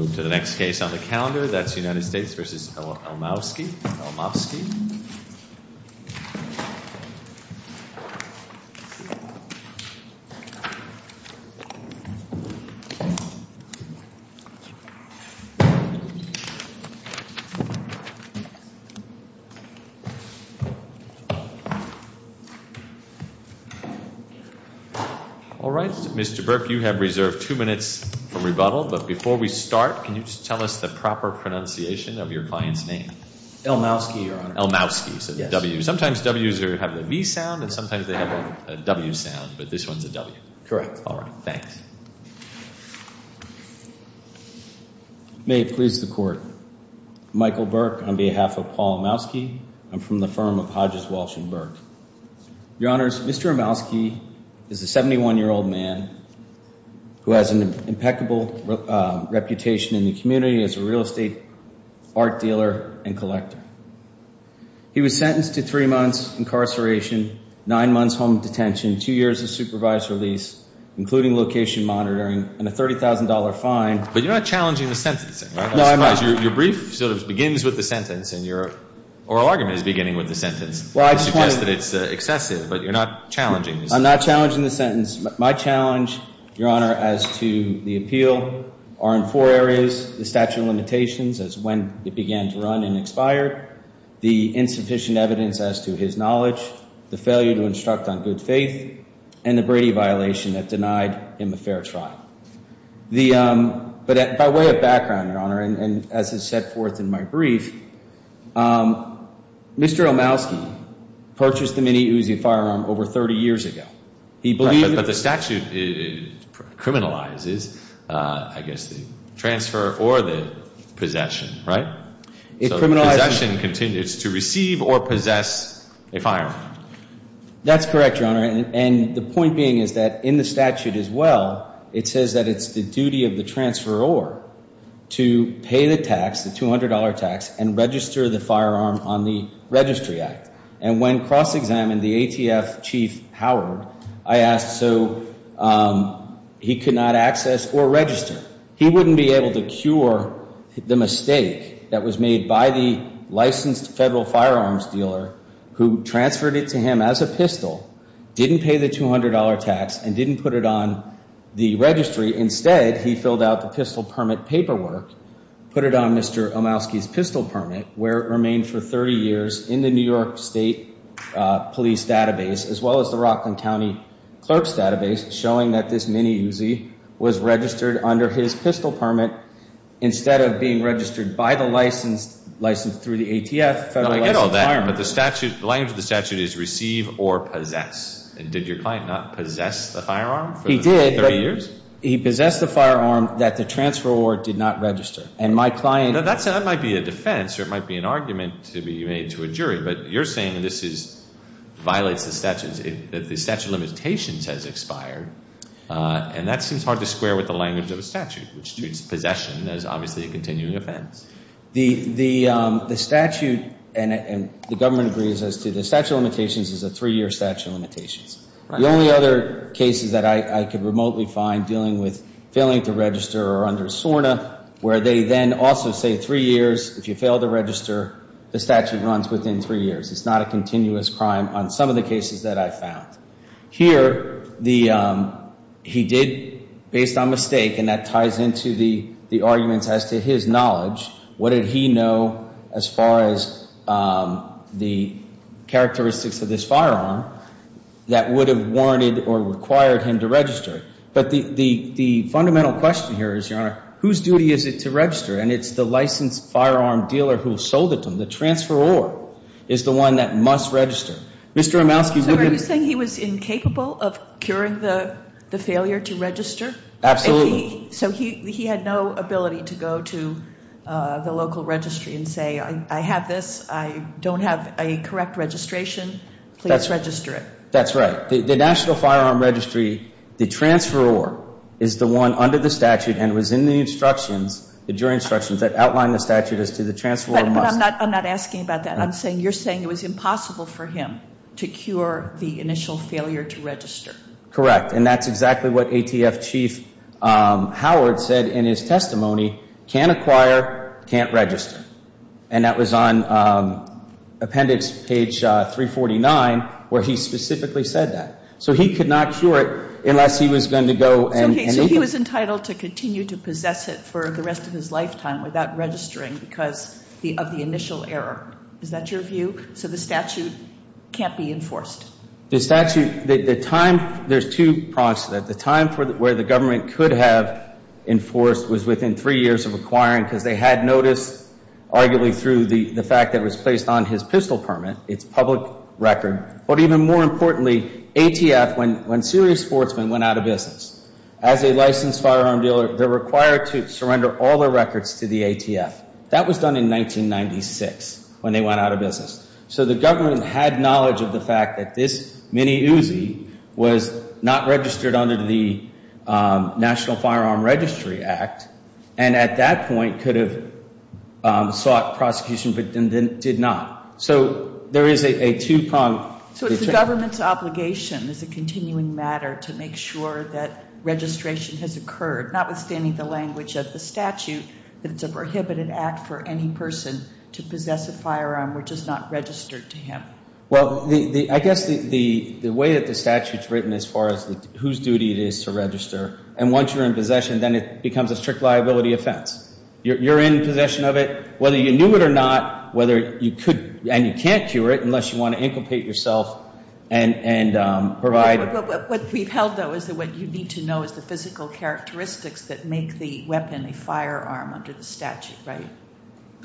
All right, Mr. Burke, you have reserved two minutes for rebuttal. But before we start, can you just tell us the proper pronunciation of your client's name? Elmowsky, Your Honor. Elmowsky, so the W. Sometimes Ws have the V sound, and sometimes they have a W sound. But this one's a W. Correct. All right, thanks. May it please the Court, Michael Burke, on behalf of Paul Elmowsky, I'm from the firm of Hodges, Walsh & Burke. Your Honors, Mr. Elmowsky is a 71-year-old man who has an impeccable reputation in the community as a real estate art dealer and collector. He was sentenced to three months incarceration, nine months home detention, two years of supervised release, including location monitoring, and a $30,000 fine. But you're not challenging the sentencing, right? No, I'm not. Otherwise, your brief sort of begins with the sentence, and your oral argument is beginning with the sentence. I suggest that it's excessive, but you're not challenging the sentence. I'm not challenging the sentence. My challenge, Your Honor, as to the appeal are in four areas, the statute of limitations as to when it began to run and expired, the insufficient evidence as to his knowledge, the failure to instruct on good faith, and the Brady violation that denied him a fair trial. But by way of background, Your Honor, and as is set forth in my brief, Mr. Elmowsky purchased the Mini Uzi firearm over 30 years ago. But the statute criminalizes, I guess, the transfer or the possession, right? Possession continues to receive or possess a firearm. That's correct, Your Honor. And the point being is that in the statute as well, it says that it's the duty of the transferor to pay the tax, the $200 tax, and register the firearm on the registry act. And when cross-examined the ATF Chief Howard, I asked so he could not access or register. He wouldn't be able to cure the mistake that was made by the licensed federal firearms dealer who transferred it to him as a pistol, didn't pay the $200 tax, and didn't put it on the registry. Instead, he filled out the pistol permit paperwork, put it on Mr. Elmowsky's pistol permit, where it remained for 30 years in the New York State Police database as well as the Rockland County Clerk's database, showing that this Mini Uzi was registered under his pistol permit instead of being registered by the licensed, licensed through the ATF, federal licensed firearm dealer. I get all that, but the statute, the language of the statute is receive or possess. And did your client not possess the firearm for 30 years? He did, but he possessed the firearm that the transferor did not register. And my client... Now, that might be a defense or it might be an argument to be made to a jury, but you're saying this violates the statute, that the statute of limitations has expired, and that seems hard to square with the language of the statute, which treats possession as obviously a continuing offense. The statute, and the government agrees as to the statute of limitations, is a three-year statute of limitations. The only other cases that I could remotely find dealing with failing to register are under SORNA, where they then also say three years, if you fail to register, the statute runs within three years. It's not a continuous crime on some of the cases that I found. Here, he did, based on mistake, and that ties into the arguments as to his knowledge, what did he know as far as the characteristics of this firearm that would have warranted or required him to register? But the fundamental question here is, Your Honor, whose duty is it to register? And it's the licensed firearm dealer who sold it to him. The transferor is the one that must register. Mr. Romowski... So are you saying he was incapable of curing the failure to register? Absolutely. So he had no ability to go to the local registry and say, I have this. I don't have a correct registration. Please register it. That's right. The National Firearm Registry, the transferor, is the one under the statute and was in the instructions, the jury instructions that outline the statute as to the transferor must... But I'm not asking about that. You're saying it was impossible for him to cure the initial failure to register. Correct. And that's exactly what ATF Chief Howard said in his testimony, can't acquire, can't register. And that was on appendix page 349 where he specifically said that. So he could not cure it unless he was going to go and... So he was entitled to continue to possess it for the rest of his lifetime without registering because of the initial error. Is that your view? So the statute can't be enforced. The statute, the time, there's two parts to that. The time where the government could have enforced was within three years of acquiring because they had notice, arguably through the fact that it was placed on his pistol permit, it's public record. But even more importantly, ATF, when serious sportsmen went out of business, as a licensed firearm dealer, they're required to surrender all their records to the ATF. That was done in 1996 when they went out of business. So the government had knowledge of the fact that this mini Uzi was not registered under the National Firearm Registry Act, and at that point could have sought prosecution but did not. So there is a two-pronged... So it's the government's obligation as a continuing matter to make sure that registration has occurred, notwithstanding the language of the statute, that it's a prohibited act for any person to possess a firearm which is not registered to him. Well, I guess the way that the statute's written as far as whose duty it is to register, and once you're in possession, then it becomes a strict liability offense. You're in possession of it, whether you knew it or not, whether you could, and you can't cure it unless you want to incubate yourself and provide... What we've held, though, is that what you need to know is the physical characteristics that make the weapon a firearm under the statute, right?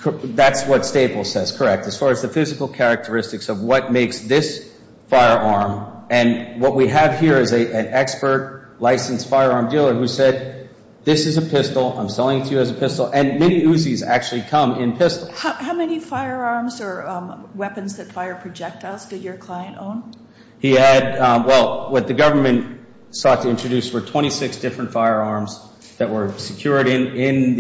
That's what Staples says, correct, as far as the physical characteristics of what makes this firearm. And what we have here is an expert licensed firearm dealer who said, this is a pistol, I'm selling it to you as a pistol, and mini Uzis actually come in pistol. How many firearms or weapons that fire projectiles did your client own? He had, well, what the government sought to introduce were 26 different firearms that were secured in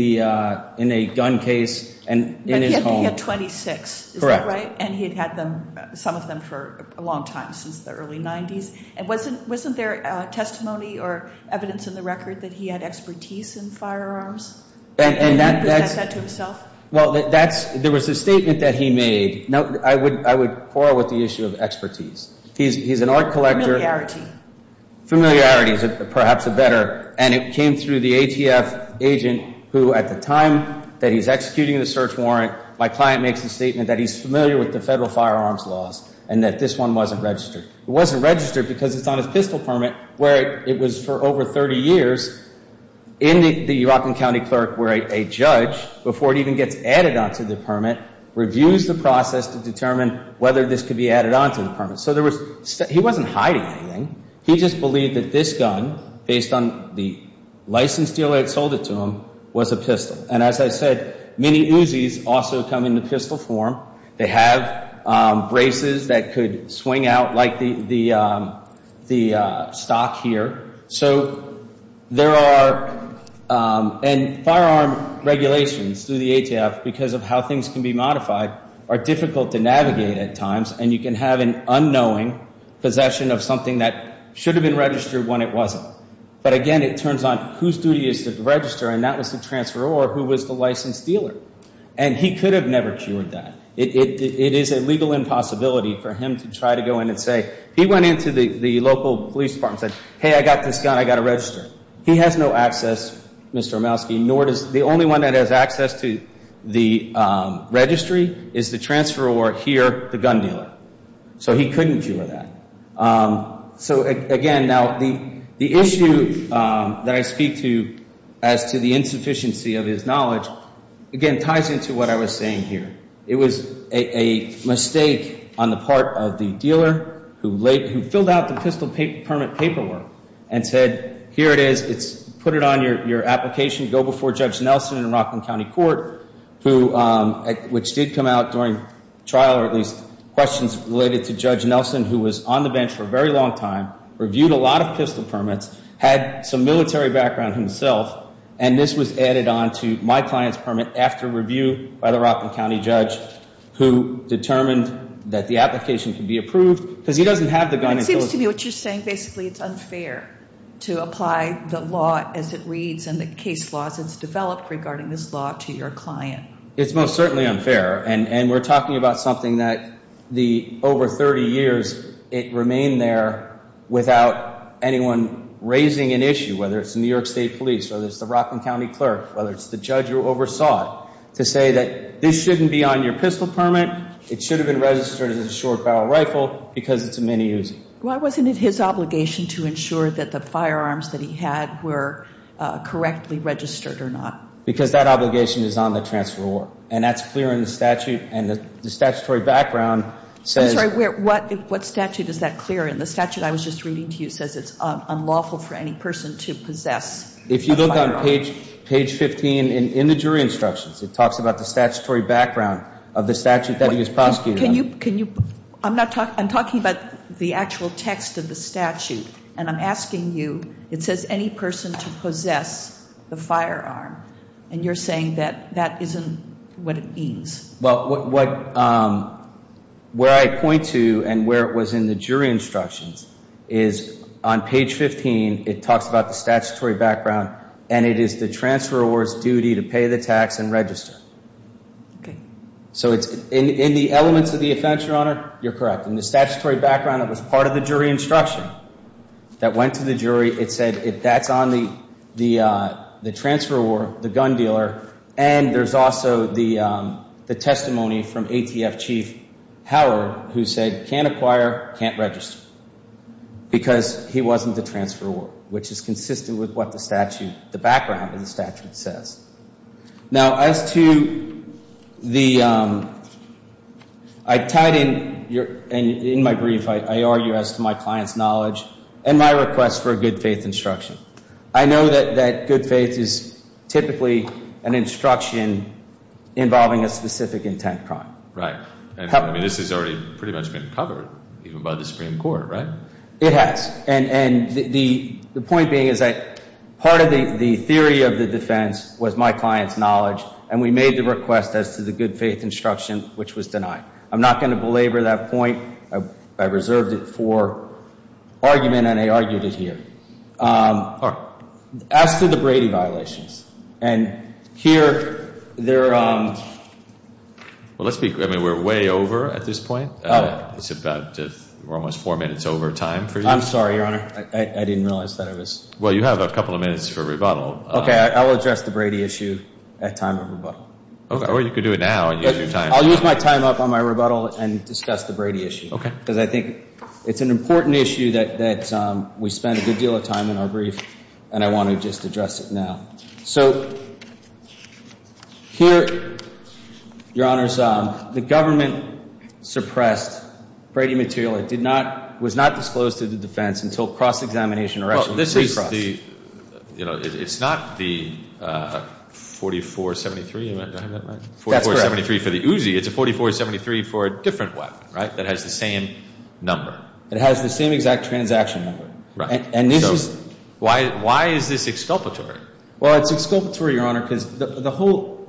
a gun case in his home. He had 26, is that right? Correct. And he had had some of them for a long time, since the early 90s. And wasn't there testimony or evidence in the record that he had expertise in firearms? And he presented that to himself? Well, there was a statement that he made. I would quarrel with the issue of expertise. He's an art collector. Familiarity. Familiarity is perhaps better. And it came through the ATF agent who, at the time that he's executing the search warrant, my client makes the statement that he's familiar with the federal firearms laws and that this one wasn't registered. It wasn't registered because it's on his pistol permit where it was for over 30 years in the Rockland County clerk where a judge, before it even gets added onto the permit, reviews the process to determine whether this could be added onto the permit. So he wasn't hiding anything. He just believed that this gun, based on the license deal that sold it to him, was a pistol. And as I said, many Uzis also come in the pistol form. They have braces that could swing out like the stock here. And firearm regulations through the ATF, because of how things can be modified, are difficult to navigate at times, and you can have an unknowing possession of something that should have been registered when it wasn't. But again, it turns on whose duty it is to register, and that was the transferor who was the licensed dealer. And he could have never cured that. It is a legal impossibility for him to try to go in and say, he went into the local police department and said, hey, I got this gun, I got to register it. He has no access, Mr. Romowski, nor does the only one that has access to the registry is the transferor here, the gun dealer. So he couldn't cure that. So again, now the issue that I speak to as to the insufficiency of his knowledge, again, ties into what I was saying here. It was a mistake on the part of the dealer who filled out the pistol permit paperwork and said, here it is, put it on your application, go before Judge Nelson in Rockland County Court, which did come out during trial, or at least questions related to Judge Nelson, who was on the bench for a very long time, reviewed a lot of pistol permits, had some military background himself, and this was added on to my client's permit after review by the Rockland County judge who determined that the application could be approved. Because he doesn't have the gun. It seems to me what you're saying, basically it's unfair to apply the law as it reads and the case laws as it's developed regarding this law to your client. It's most certainly unfair, and we're talking about something that over 30 years it remained there without anyone raising an issue, whether it's the New York State Police, whether it's the Rockland County clerk, whether it's the judge who oversaw it, to say that this shouldn't be on your pistol permit. It should have been registered as a short barrel rifle because it's a mini-use. Why wasn't it his obligation to ensure that the firearms that he had were correctly registered or not? Because that obligation is on the transferor, and that's clear in the statute, and the statutory background says I'm sorry, what statute is that clear in? The statute I was just reading to you says it's unlawful for any person to possess. If you look on page 15 in the jury instructions, it talks about the statutory background of the statute that he is prosecuting. I'm talking about the actual text of the statute, and I'm asking you. It says any person to possess the firearm, and you're saying that that isn't what it means. Well, where I point to and where it was in the jury instructions is on page 15 it talks about the statutory background, and it is the transferor's duty to pay the tax and register. Okay. So in the elements of the offense, Your Honor, you're correct. In the statutory background that was part of the jury instruction that went to the jury, it said that's on the transferor, the gun dealer, and there's also the testimony from ATF Chief Hauer who said can't acquire, can't register because he wasn't the transferor, which is consistent with what the statute, the background of the statute says. Now, as to the, I tied in, in my brief, I argue as to my client's knowledge and my request for a good faith instruction. I know that good faith is typically an instruction involving a specific intent crime. Right. I mean, this has already pretty much been covered even by the Supreme Court, right? It has. And the point being is that part of the theory of the defense was my client's knowledge, and we made the request as to the good faith instruction, which was denied. I'm not going to belabor that point. I reserved it for argument, and I argued it here. All right. As to the Brady violations, and here they're ‑‑ Well, let's be, I mean, we're way over at this point. It's about, we're almost four minutes over time for you. I'm sorry, Your Honor. I didn't realize that it was. Well, you have a couple of minutes for rebuttal. Okay. I'll address the Brady issue at time of rebuttal. Okay. Or you could do it now and use your time. I'll use my time up on my rebuttal and discuss the Brady issue. Okay. Because I think it's an important issue that we spend a good deal of time in our brief, and I want to just address it now. So here, Your Honors, the government suppressed Brady material. It did not, was not disclosed to the defense until cross‑examination or actually pre‑cross. Well, this is the, you know, it's not the 4473. Did I have that right? That's correct. 4473 for the Uzi. It's a 4473 for a different weapon, right, that has the same number. It has the same exact transaction number. Right. And this is ‑‑ Why is this exculpatory? Well, it's exculpatory, Your Honor, because the whole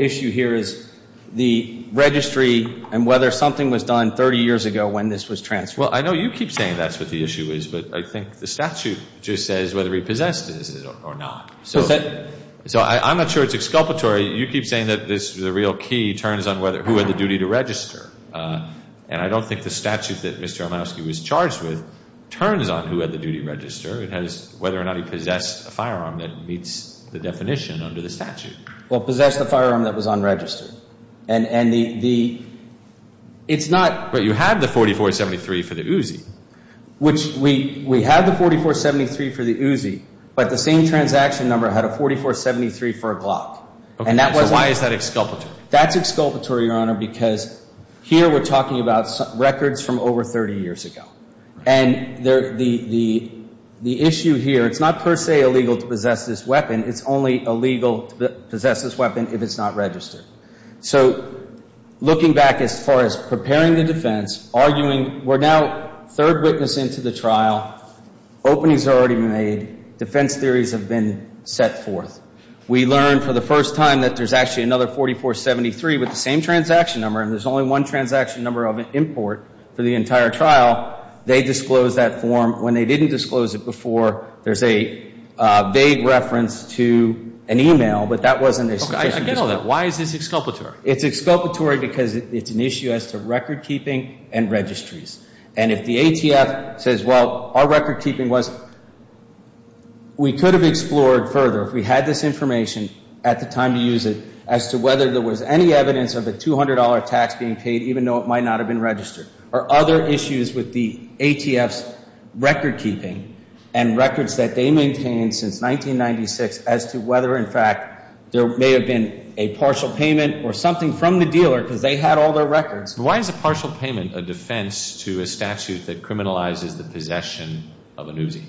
issue here is the registry and whether something was done 30 years ago when this was transferred. Well, I know you keep saying that's what the issue is, but I think the statute just says whether he possessed it or not. So I'm not sure it's exculpatory. You keep saying that this is a real key, turns on who had the duty to register. And I don't think the statute that Mr. Olmowski was charged with turns on who had the duty to register. It has whether or not he possessed a firearm that meets the definition under the statute. Well, possessed a firearm that was unregistered. And the ‑‑ it's not ‑‑ But you had the 4473 for the Uzi. Which we had the 4473 for the Uzi, but the same transaction number had a 4473 for a Glock. Okay. So why is that exculpatory? That's exculpatory, Your Honor, because here we're talking about records from over 30 years ago. And the issue here, it's not per se illegal to possess this weapon. It's only illegal to possess this weapon if it's not registered. So looking back as far as preparing the defense, arguing, we're now third witness into the trial. Openings have already been made. Defense theories have been set forth. We learned for the first time that there's actually another 4473 with the same transaction number, and there's only one transaction number of import for the entire trial. They disclosed that form. When they didn't disclose it before, there's a vague reference to an e‑mail, but that wasn't ‑‑ I get all that. Why is this exculpatory? It's exculpatory because it's an issue as to recordkeeping and registries. And if the ATF says, well, our recordkeeping was ‑‑ we could have explored further. If we had this information at the time to use it as to whether there was any evidence of a $200 tax being paid, even though it might not have been registered, or other issues with the ATF's recordkeeping and records that they maintained since 1996 as to whether, in fact, there may have been a partial payment or something from the dealer because they had all their records. Why is a partial payment a defense to a statute that criminalizes the possession of an Uzi?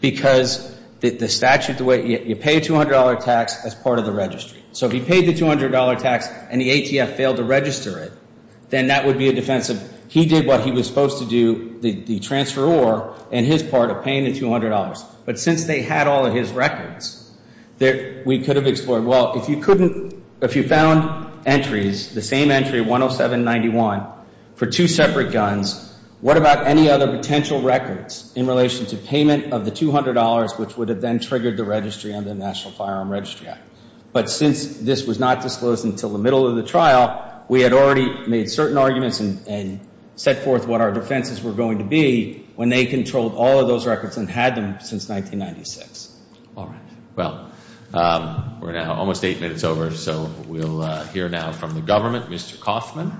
Because the statute, the way ‑‑ you pay a $200 tax as part of the registry. So if he paid the $200 tax and the ATF failed to register it, then that would be a defense. He did what he was supposed to do, the transferor, in his part of paying the $200. But since they had all of his records, we could have explored. Well, if you couldn't ‑‑ if you found entries, the same entry, 10791, for two separate guns, what about any other potential records in relation to payment of the $200 which would have then triggered the registry under the National Firearm Registry Act? But since this was not disclosed until the middle of the trial, we had already made certain arguments and set forth what our defenses were going to be when they controlled all of those records and had them since 1996. All right. Well, we're now almost eight minutes over, so we'll hear now from the government. Mr. Coffman.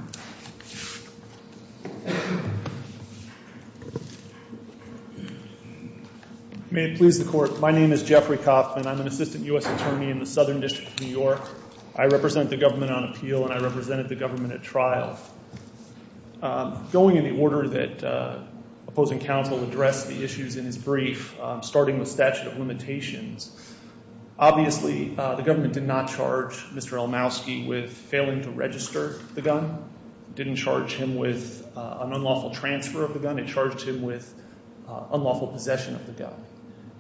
May it please the Court, my name is Jeffrey Coffman. I'm an assistant U.S. attorney in the Southern District of New York. I represent the government on appeal and I represented the government at trial. Going in the order that opposing counsel addressed the issues in his brief, starting with statute of limitations, obviously the government did not charge Mr. Elmowski with failing to register the gun, didn't charge him with an unlawful transfer of the gun, it charged him with unlawful possession of the gun.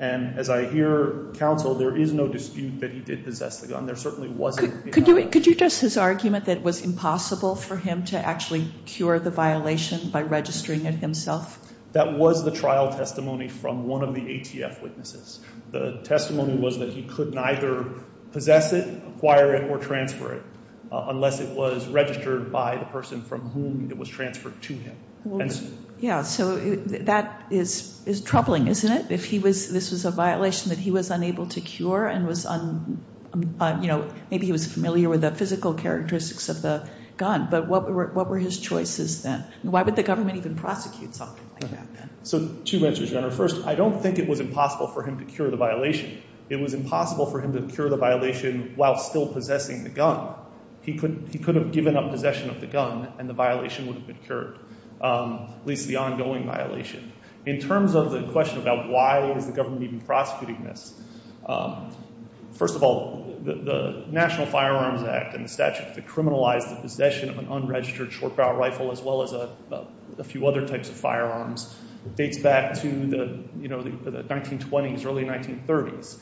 And as I hear counsel, there is no dispute that he did possess the gun. There certainly wasn't ‑‑ Could you address his argument that it was impossible for him to actually cure the violation by registering it himself? That was the trial testimony from one of the ATF witnesses. The testimony was that he could neither possess it, acquire it, or transfer it, unless it was registered by the person from whom it was transferred to him. Yeah, so that is troubling, isn't it? If this was a violation that he was unable to cure and was, you know, maybe he was familiar with the physical characteristics of the gun, but what were his choices then? Why would the government even prosecute something like that then? So two answers, Your Honor. First, I don't think it was impossible for him to cure the violation. It was impossible for him to cure the violation while still possessing the gun. He could have given up possession of the gun and the violation would have been cured, at least the ongoing violation. In terms of the question about why is the government even prosecuting this, first of all, the National Firearms Act and the statute that criminalized the possession of an unregistered short barrel rifle as well as a few other types of firearms dates back to the 1920s, early 1930s.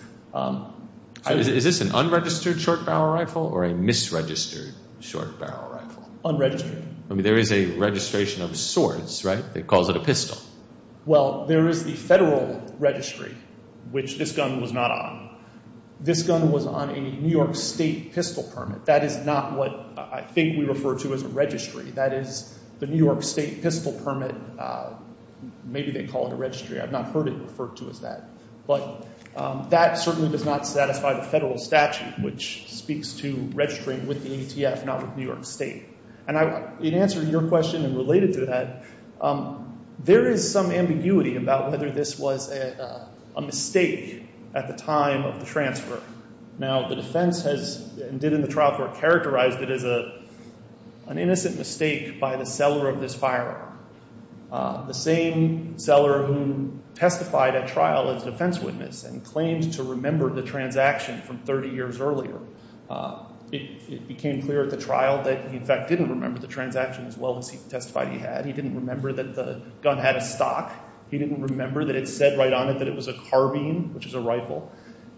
Is this an unregistered short barrel rifle or a misregistered short barrel rifle? Unregistered. I mean, there is a registration of sorts, right, that calls it a pistol. Well, there is the federal registry, which this gun was not on. This gun was on a New York State pistol permit. That is not what I think we refer to as a registry. That is the New York State pistol permit. Maybe they call it a registry. I've not heard it referred to as that. But that certainly does not satisfy the federal statute, which speaks to registering with the ATF, not with New York State. And in answer to your question and related to that, there is some ambiguity about whether this was a mistake at the time of the transfer. Now, the defense has, and did in the trial for it, characterized it as an innocent mistake by the seller of this firearm, the same seller who testified at trial as a defense witness and claimed to remember the transaction from 30 years earlier. It became clear at the trial that he, in fact, didn't remember the transaction as well as he testified he had. He didn't remember that the gun had a stock. He didn't remember that it said right on it that it was a carbine, which is a rifle.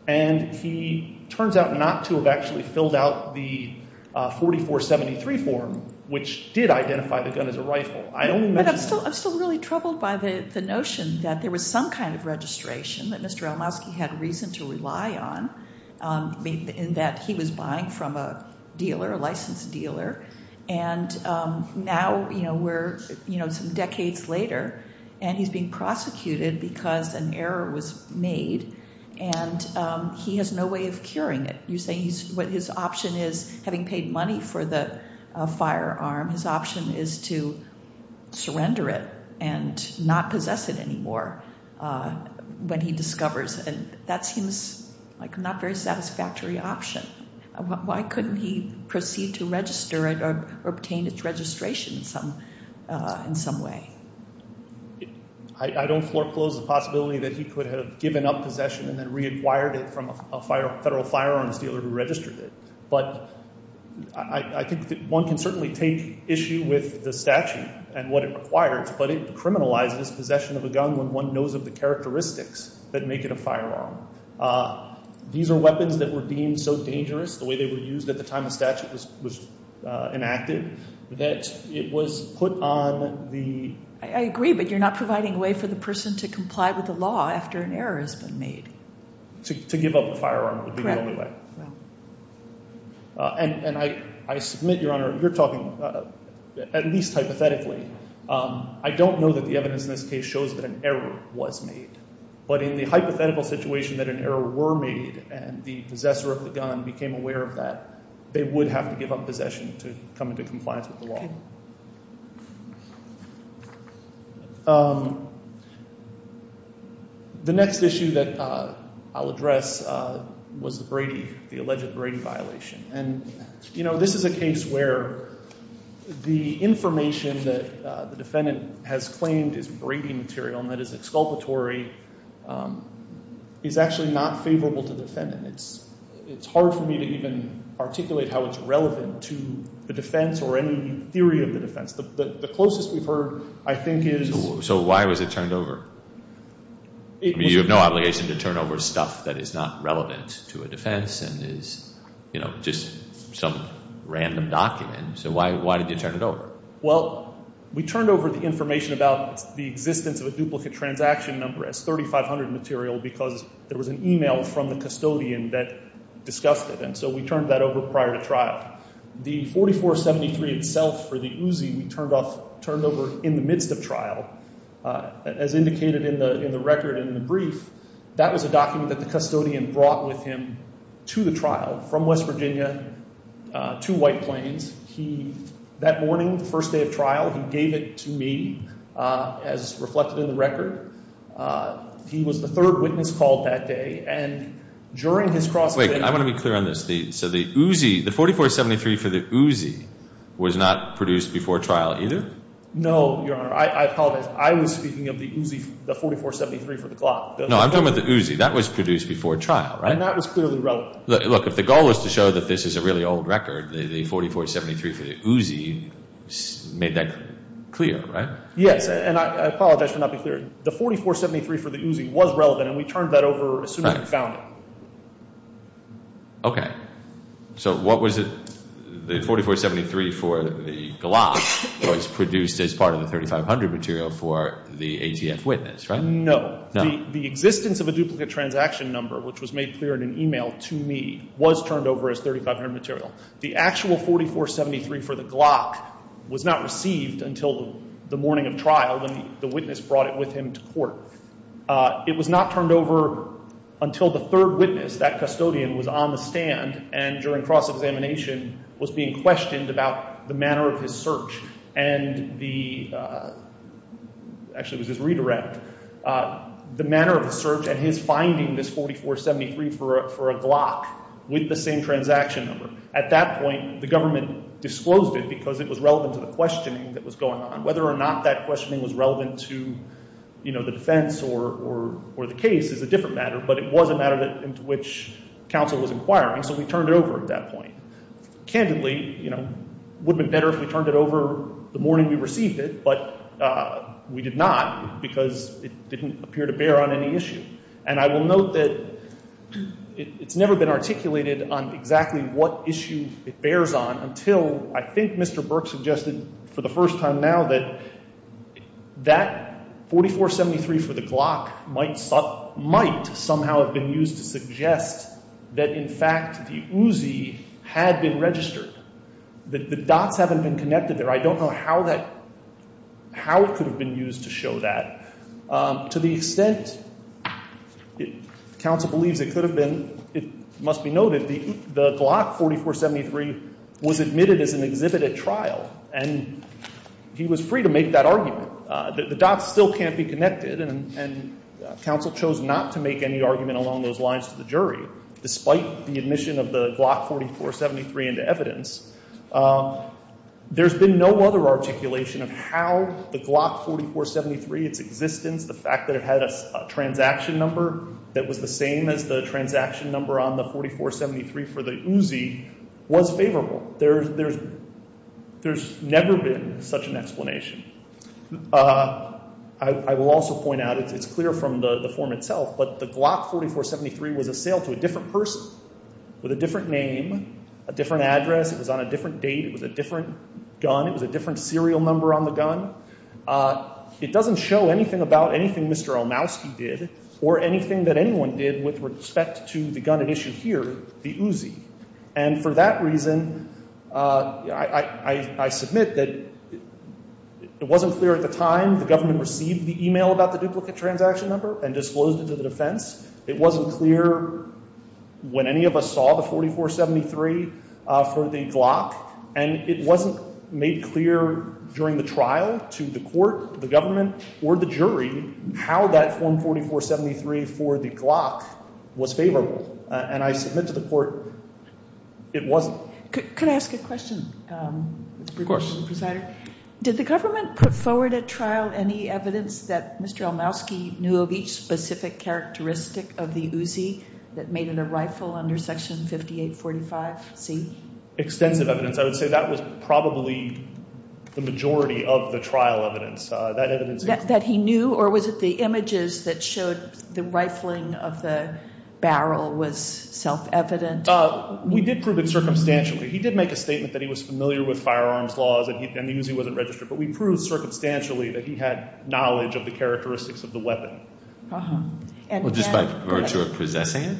And he turns out not to have actually filled out the 4473 form, which did identify the gun as a rifle. But I'm still really troubled by the notion that there was some kind of registration that Mr. Elmowski had reason to rely on in that he was buying from a dealer, a licensed dealer, and now we're some decades later and he's being prosecuted because an error was made and he has no way of curing it. You say what his option is, having paid money for the firearm, his option is to surrender it and not possess it anymore when he discovers it. That seems like a not very satisfactory option. Why couldn't he proceed to register it or obtain its registration in some way? I don't foreclose the possibility that he could have given up possession and then reacquired it from a federal firearms dealer who registered it. But I think one can certainly take issue with the statute and what it requires, but it criminalizes possession of a gun when one knows of the characteristics that make it a firearm. These are weapons that were deemed so dangerous, the way they were used at the time the statute was enacted, that it was put on the... I agree, but you're not providing a way for the person to comply with the law after an error has been made. To give up a firearm would be the only way. Correct. And I submit, Your Honor, you're talking at least hypothetically. I don't know that the evidence in this case shows that an error was made, but in the hypothetical situation that an error were made and the possessor of the gun became aware of that, they would have to give up possession to come into compliance with the law. Okay. The next issue that I'll address was the Brady, the alleged Brady violation. And this is a case where the information that the defendant has claimed is Brady material and that is exculpatory is actually not favorable to the defendant. It's hard for me to even articulate how it's relevant to the defense or any theory of the defense. The closest we've heard, I think, is... So why was it turned over? I mean, you have no obligation to turn over stuff that is not relevant to a defense and is, you know, just some random document. So why did you turn it over? Well, we turned over the information about the existence of a duplicate transaction number as 3500 material because there was an email from the custodian that discussed it, and so we turned that over prior to trial. The 4473 itself for the Uzi we turned over in the midst of trial. As indicated in the record and in the brief, that was a document that the custodian brought with him to the trial from West Virginia to White Plains. That morning, the first day of trial, he gave it to me as reflected in the record. He was the third witness called that day, and during his cross-examination... Wait, I want to be clear on this. So the Uzi, the 4473 for the Uzi was not produced before trial either? No, Your Honor, I apologize. I was speaking of the Uzi, the 4473 for the clock. No, I'm talking about the Uzi. That was produced before trial, right? And that was clearly relevant. Look, if the goal was to show that this is a really old record, the 4473 for the Uzi made that clear, right? Yes, and I apologize for not being clear. The 4473 for the Uzi was relevant, and we turned that over as soon as we found it. Okay. So what was it? The 4473 for the clock was produced as part of the 3500 material for the ATF witness, right? No. The existence of a duplicate transaction number, which was made clear in an e-mail to me, was turned over as 3500 material. The actual 4473 for the clock was not received until the morning of trial when the witness brought it with him to court. It was not turned over until the third witness, that custodian, was on the stand and, during cross-examination, was being questioned about the manner of his search and the—actually, it was his redirect— the manner of his search and his finding this 4473 for a clock with the same transaction number. At that point, the government disclosed it because it was relevant to the questioning that was going on. Whether or not that questioning was relevant to the defense or the case is a different matter, but it was a matter into which counsel was inquiring, so we turned it over at that point. Candidly, you know, it would have been better if we turned it over the morning we received it, but we did not because it didn't appear to bear on any issue. And I will note that it's never been articulated on exactly what issue it bears on until, I think, Mr. Burke suggested for the first time now that that 4473 for the clock might somehow have been used to suggest that, in fact, the Uzi had been registered, that the dots haven't been connected there. I don't know how that—how it could have been used to show that. To the extent counsel believes it could have been, it must be noted, the clock 4473 was admitted as an exhibit at trial, and he was free to make that argument. The dots still can't be connected, and counsel chose not to make any argument along those lines to the jury, despite the admission of the clock 4473 into evidence. There's been no other articulation of how the clock 4473, its existence, the fact that it had a transaction number that was the same as the transaction number on the 4473 for the Uzi, was favorable. There's never been such an explanation. I will also point out, it's clear from the form itself, but the clock 4473 was a sale to a different person with a different name, a different address, it was on a different date, it was a different gun, it was a different serial number on the gun. It doesn't show anything about anything Mr. Olmowski did or anything that anyone did with respect to the gun at issue here, the Uzi. And for that reason, I submit that it wasn't clear at the time the government received the email about the duplicate transaction number and disclosed it to the defense. It wasn't clear when any of us saw the 4473 for the Glock, and it wasn't made clear during the trial to the court, the government, or the jury how that form 4473 for the Glock was favorable. And I submit to the court, it wasn't. Could I ask a question? Of course. Did the government put forward at trial any evidence that Mr. Olmowski knew of each specific characteristic of the Uzi that made it a rifle under Section 5845C? Extensive evidence. I would say that was probably the majority of the trial evidence. That he knew? Or was it the images that showed the rifling of the barrel was self-evident? We did prove it circumstantially. He did make a statement that he was familiar with firearms laws and the Uzi wasn't registered, but we proved circumstantially that he had knowledge of the characteristics of the weapon. Just by virtue of possessing it?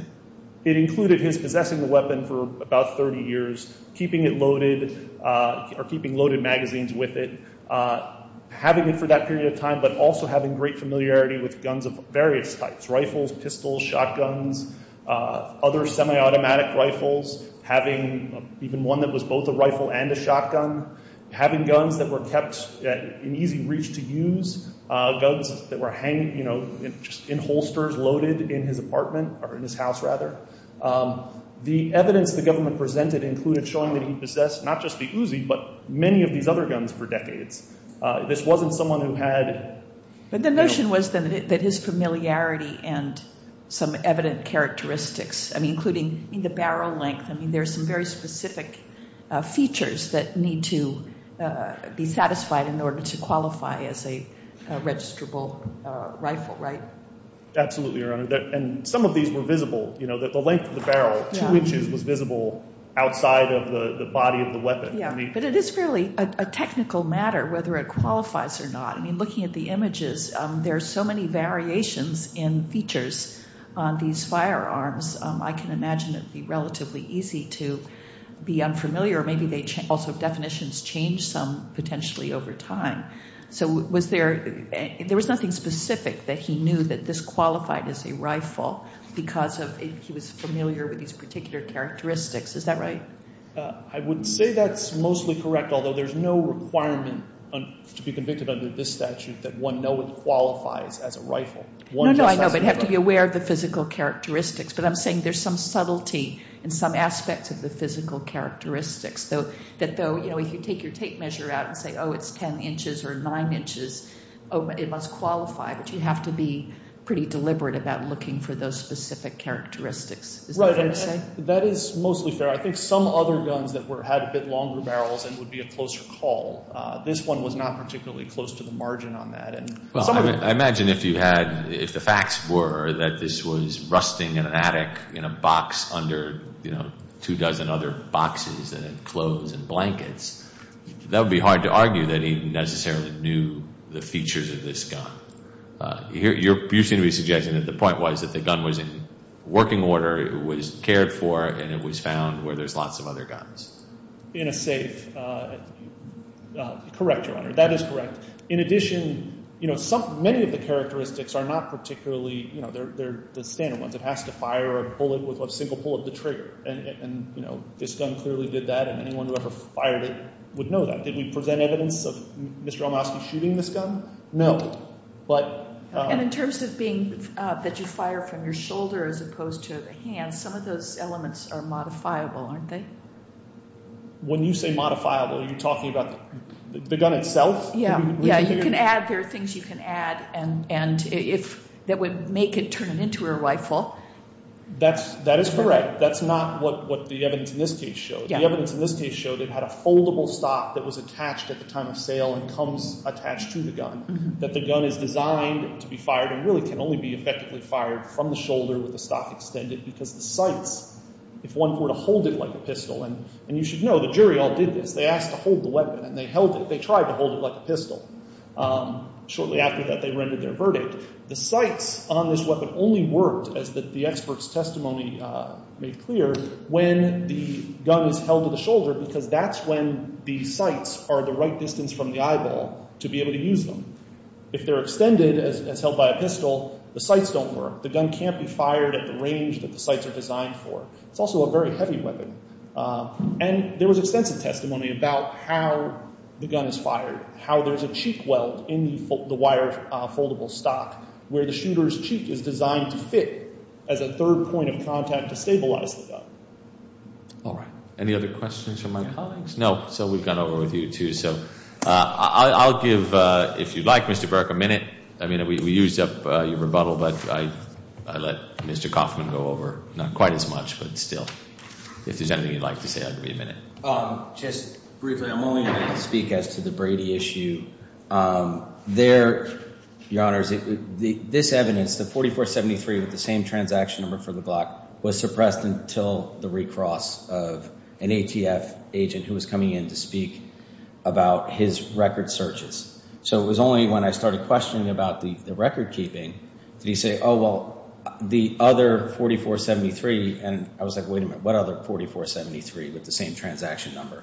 It included his possessing the weapon for about 30 years, keeping it loaded or keeping loaded magazines with it, having it for that period of time, but also having great familiarity with guns of various types, rifles, pistols, shotguns, other semi-automatic rifles, having even one that was both a rifle and a shotgun, having guns that were kept in easy reach to use, guns that were hanging in holsters loaded in his apartment, or in his house rather. The evidence the government presented included showing that he possessed not just the Uzi, but many of these other guns for decades. This wasn't someone who had... But the notion was then that his familiarity and some evident characteristics, including the barrel length, there's some very specific features that need to be satisfied in order to qualify as a registrable rifle, right? Absolutely, Your Honor. Some of these were visible. The length of the barrel, two inches, was visible outside of the body of the weapon. But it is really a technical matter whether it qualifies or not. Looking at the images, there are so many variations in features on these firearms. I can imagine it would be relatively easy to be unfamiliar, or maybe also definitions change some potentially over time. There was nothing specific that he knew that this qualified as a rifle because he was familiar with these particular characteristics. Is that right? I would say that's mostly correct, although there's no requirement to be convicted under this statute that one know it qualifies as a rifle. No, no, I know, but you have to be aware of the physical characteristics. But I'm saying there's some subtlety in some aspects of the physical characteristics. If you take your tape measure out and say, oh, it's 10 inches or 9 inches, it must qualify. But you have to be pretty deliberate about looking for those specific characteristics. Is that what you're saying? That is mostly fair. I think some other guns that had a bit longer barrels and would be a closer call. This one was not particularly close to the margin on that. I imagine if the facts were that this was rusting in an attic in a box under two dozen other boxes and in clothes and blankets, that would be hard to argue that he necessarily knew the features of this gun. You seem to be suggesting that the point was that the gun was in working order, it was cared for, and it was found where there's lots of other guns. In a safe. Correct, Your Honor. That is correct. In addition, many of the characteristics are not particularly the standard ones. It has to fire a bullet with a single pull of the trigger. This gun clearly did that, and anyone who ever fired it would know that. Did we present evidence of Mr. Olmowski shooting this gun? No. And in terms of being that you fire from your shoulder as opposed to the hand, some of those elements are modifiable, aren't they? When you say modifiable, are you talking about the gun itself? Yeah, you can add. There are things you can add that would make it turn into a rifle. That is correct. That's not what the evidence in this case showed. The evidence in this case showed it had a foldable stock that was attached at the time of sale and comes attached to the gun, that the gun is designed to be fired and really can only be effectively fired from the shoulder with the stock extended because the sights, if one were to hold it like a pistol, and you should know the jury all did this. They asked to hold the weapon, and they held it. They tried to hold it like a pistol. Shortly after that, they rendered their verdict. The sights on this weapon only worked, as the expert's testimony made clear, when the gun is held to the shoulder because that's when the sights are the right distance from the eyeball to be able to use them. If they're extended, as held by a pistol, the sights don't work. The gun can't be fired at the range that the sights are designed for. It's also a very heavy weapon. And there was extensive testimony about how the gun is fired, how there's a cheek weld in the wire foldable stock where the shooter's cheek is designed to fit as a third point of contact to stabilize the gun. All right. Any other questions from my colleagues? No, so we've gone over with you two. So I'll give, if you'd like, Mr. Burke, a minute. I mean, we used up your rebuttal, but I let Mr. Kaufman go over, not quite as much, but still. If there's anything you'd like to say, I'll give you a minute. Just briefly, I'm only going to speak as to the Brady issue. There, Your Honors, this evidence, the 4473 with the same transaction number for the Glock, was suppressed until the recross of an ATF agent who was coming in to speak about his record searches. So it was only when I started questioning about the record keeping did he say, oh, well, the other 4473, and I was like, wait a minute, what other 4473 with the same transaction number?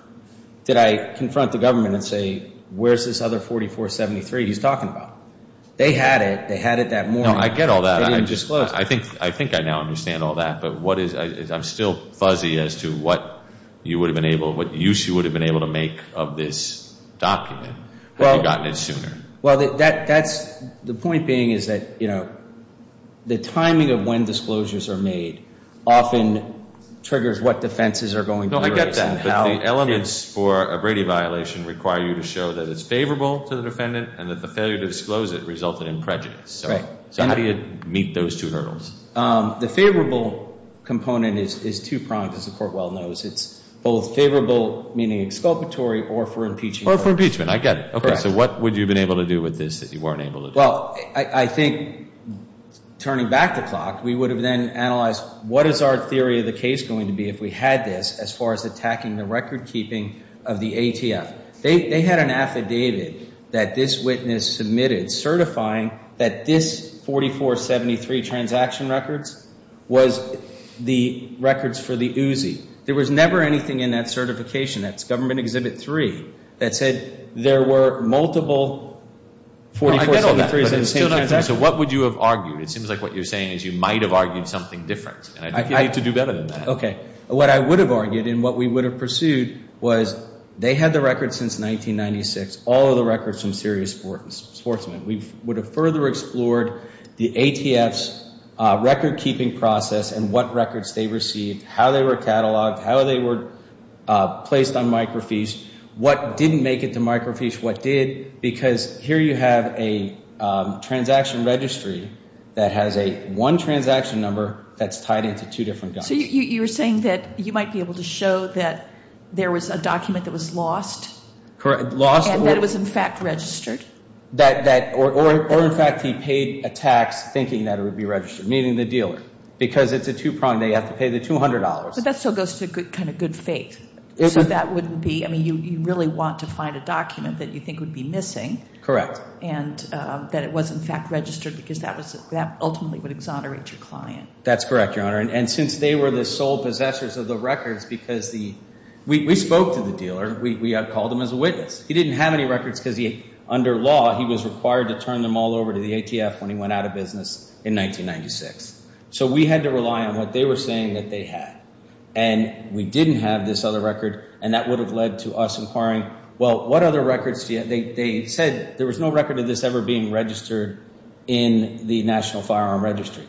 Did I confront the government and say, where's this other 4473 he's talking about? They had it. They had it that morning. No, I get all that. I think I now understand all that. But I'm still fuzzy as to what use you would have been able to make of this document had you gotten it sooner. Well, the point being is that the timing of when disclosures are made often triggers what defenses are going to be released. No, I get that. But the elements for a Brady violation require you to show that it's favorable to the defendant and that the failure to disclose it resulted in prejudice. Right. So how do you meet those two hurdles? The favorable component is two-pronged, as the Court well knows. It's both favorable, meaning exculpatory, or for impeachment. Or for impeachment. I get it. Okay, so what would you have been able to do with this that you weren't able to do? Well, I think, turning back the clock, we would have then analyzed, what is our theory of the case going to be if we had this as far as attacking the record-keeping of the ATF? They had an affidavit that this witness submitted certifying that this 4473 transaction records was the records for the UZI. There was never anything in that certification, that's Government Exhibit 3, that said there were multiple 4473s in the same transaction. I get all that, but it's still not true. So what would you have argued? It seems like what you're saying is you might have argued something different, and I think you need to do better than that. Okay. What I would have argued and what we would have pursued was they had the records since 1996, all of the records from serious sportsmen. We would have further explored the ATF's record-keeping process and what records they received, how they were cataloged, how they were placed on micro-fees, what didn't make it to micro-fees, what did. Because here you have a transaction registry that has a one transaction number that's tied into two different guns. So you're saying that you might be able to show that there was a document that was lost? And that it was, in fact, registered? Or, in fact, he paid a tax thinking that it would be registered, meaning the dealer. Because it's a two-prong, they have to pay the $200. But that still goes to kind of good faith. So that wouldn't be, I mean, you really want to find a document that you think would be missing. And that it was, in fact, registered because that ultimately would exonerate your client. That's correct, Your Honor. And since they were the sole possessors of the records because the, we spoke to the dealer. We called him as a witness. He didn't have any records because he, under law, he was required to turn them all over to the ATF when he went out of business in 1996. So we had to rely on what they were saying that they had. And we didn't have this other record. And that would have led to us inquiring, well, what other records do you have? They said there was no record of this ever being registered in the National Firearm Registry.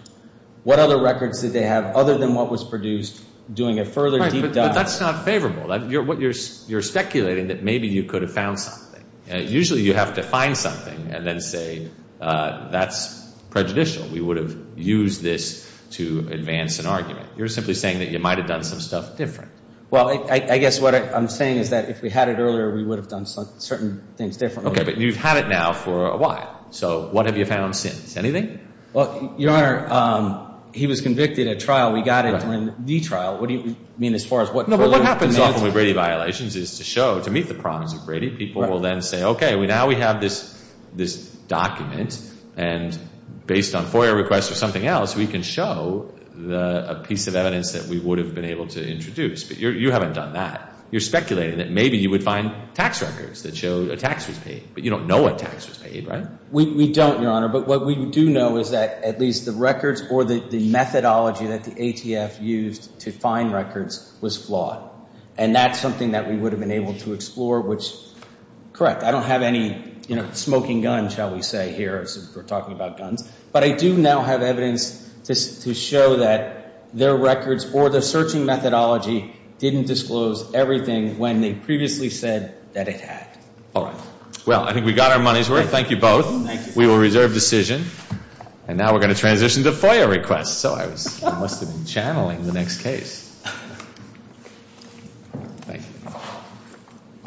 What other records did they have other than what was produced doing a further deep dive? Right, but that's not favorable. You're speculating that maybe you could have found something. Usually you have to find something and then say that's prejudicial. We would have used this to advance an argument. You're simply saying that you might have done some stuff different. Well, I guess what I'm saying is that if we had it earlier, we would have done certain things differently. Okay, but you've had it now for a while. So what have you found since? Anything? Well, Your Honor, he was convicted at trial. We got it during the trial. What do you mean as far as what? What happens often with Brady violations is to show, to meet the problems of Brady, people will then say, okay, now we have this document. And based on FOIA requests or something else, we can show a piece of evidence that we would have been able to introduce. But you haven't done that. You're speculating that maybe you would find tax records that show a tax was paid. But you don't know what tax was paid, right? We don't, Your Honor. But what we do know is that at least the records or the methodology that the ATF used to find records was flawed. And that's something that we would have been able to explore, which, correct, I don't have any smoking gun, shall we say, here. We're talking about guns. But I do now have evidence to show that their records or the searching methodology didn't disclose everything when they previously said that it had. All right. Well, I think we got our money's worth. Thank you both. Thank you. We will reserve decision. And now we're going to transition to FOIA requests. So I must have been channeling the next case. Thank you.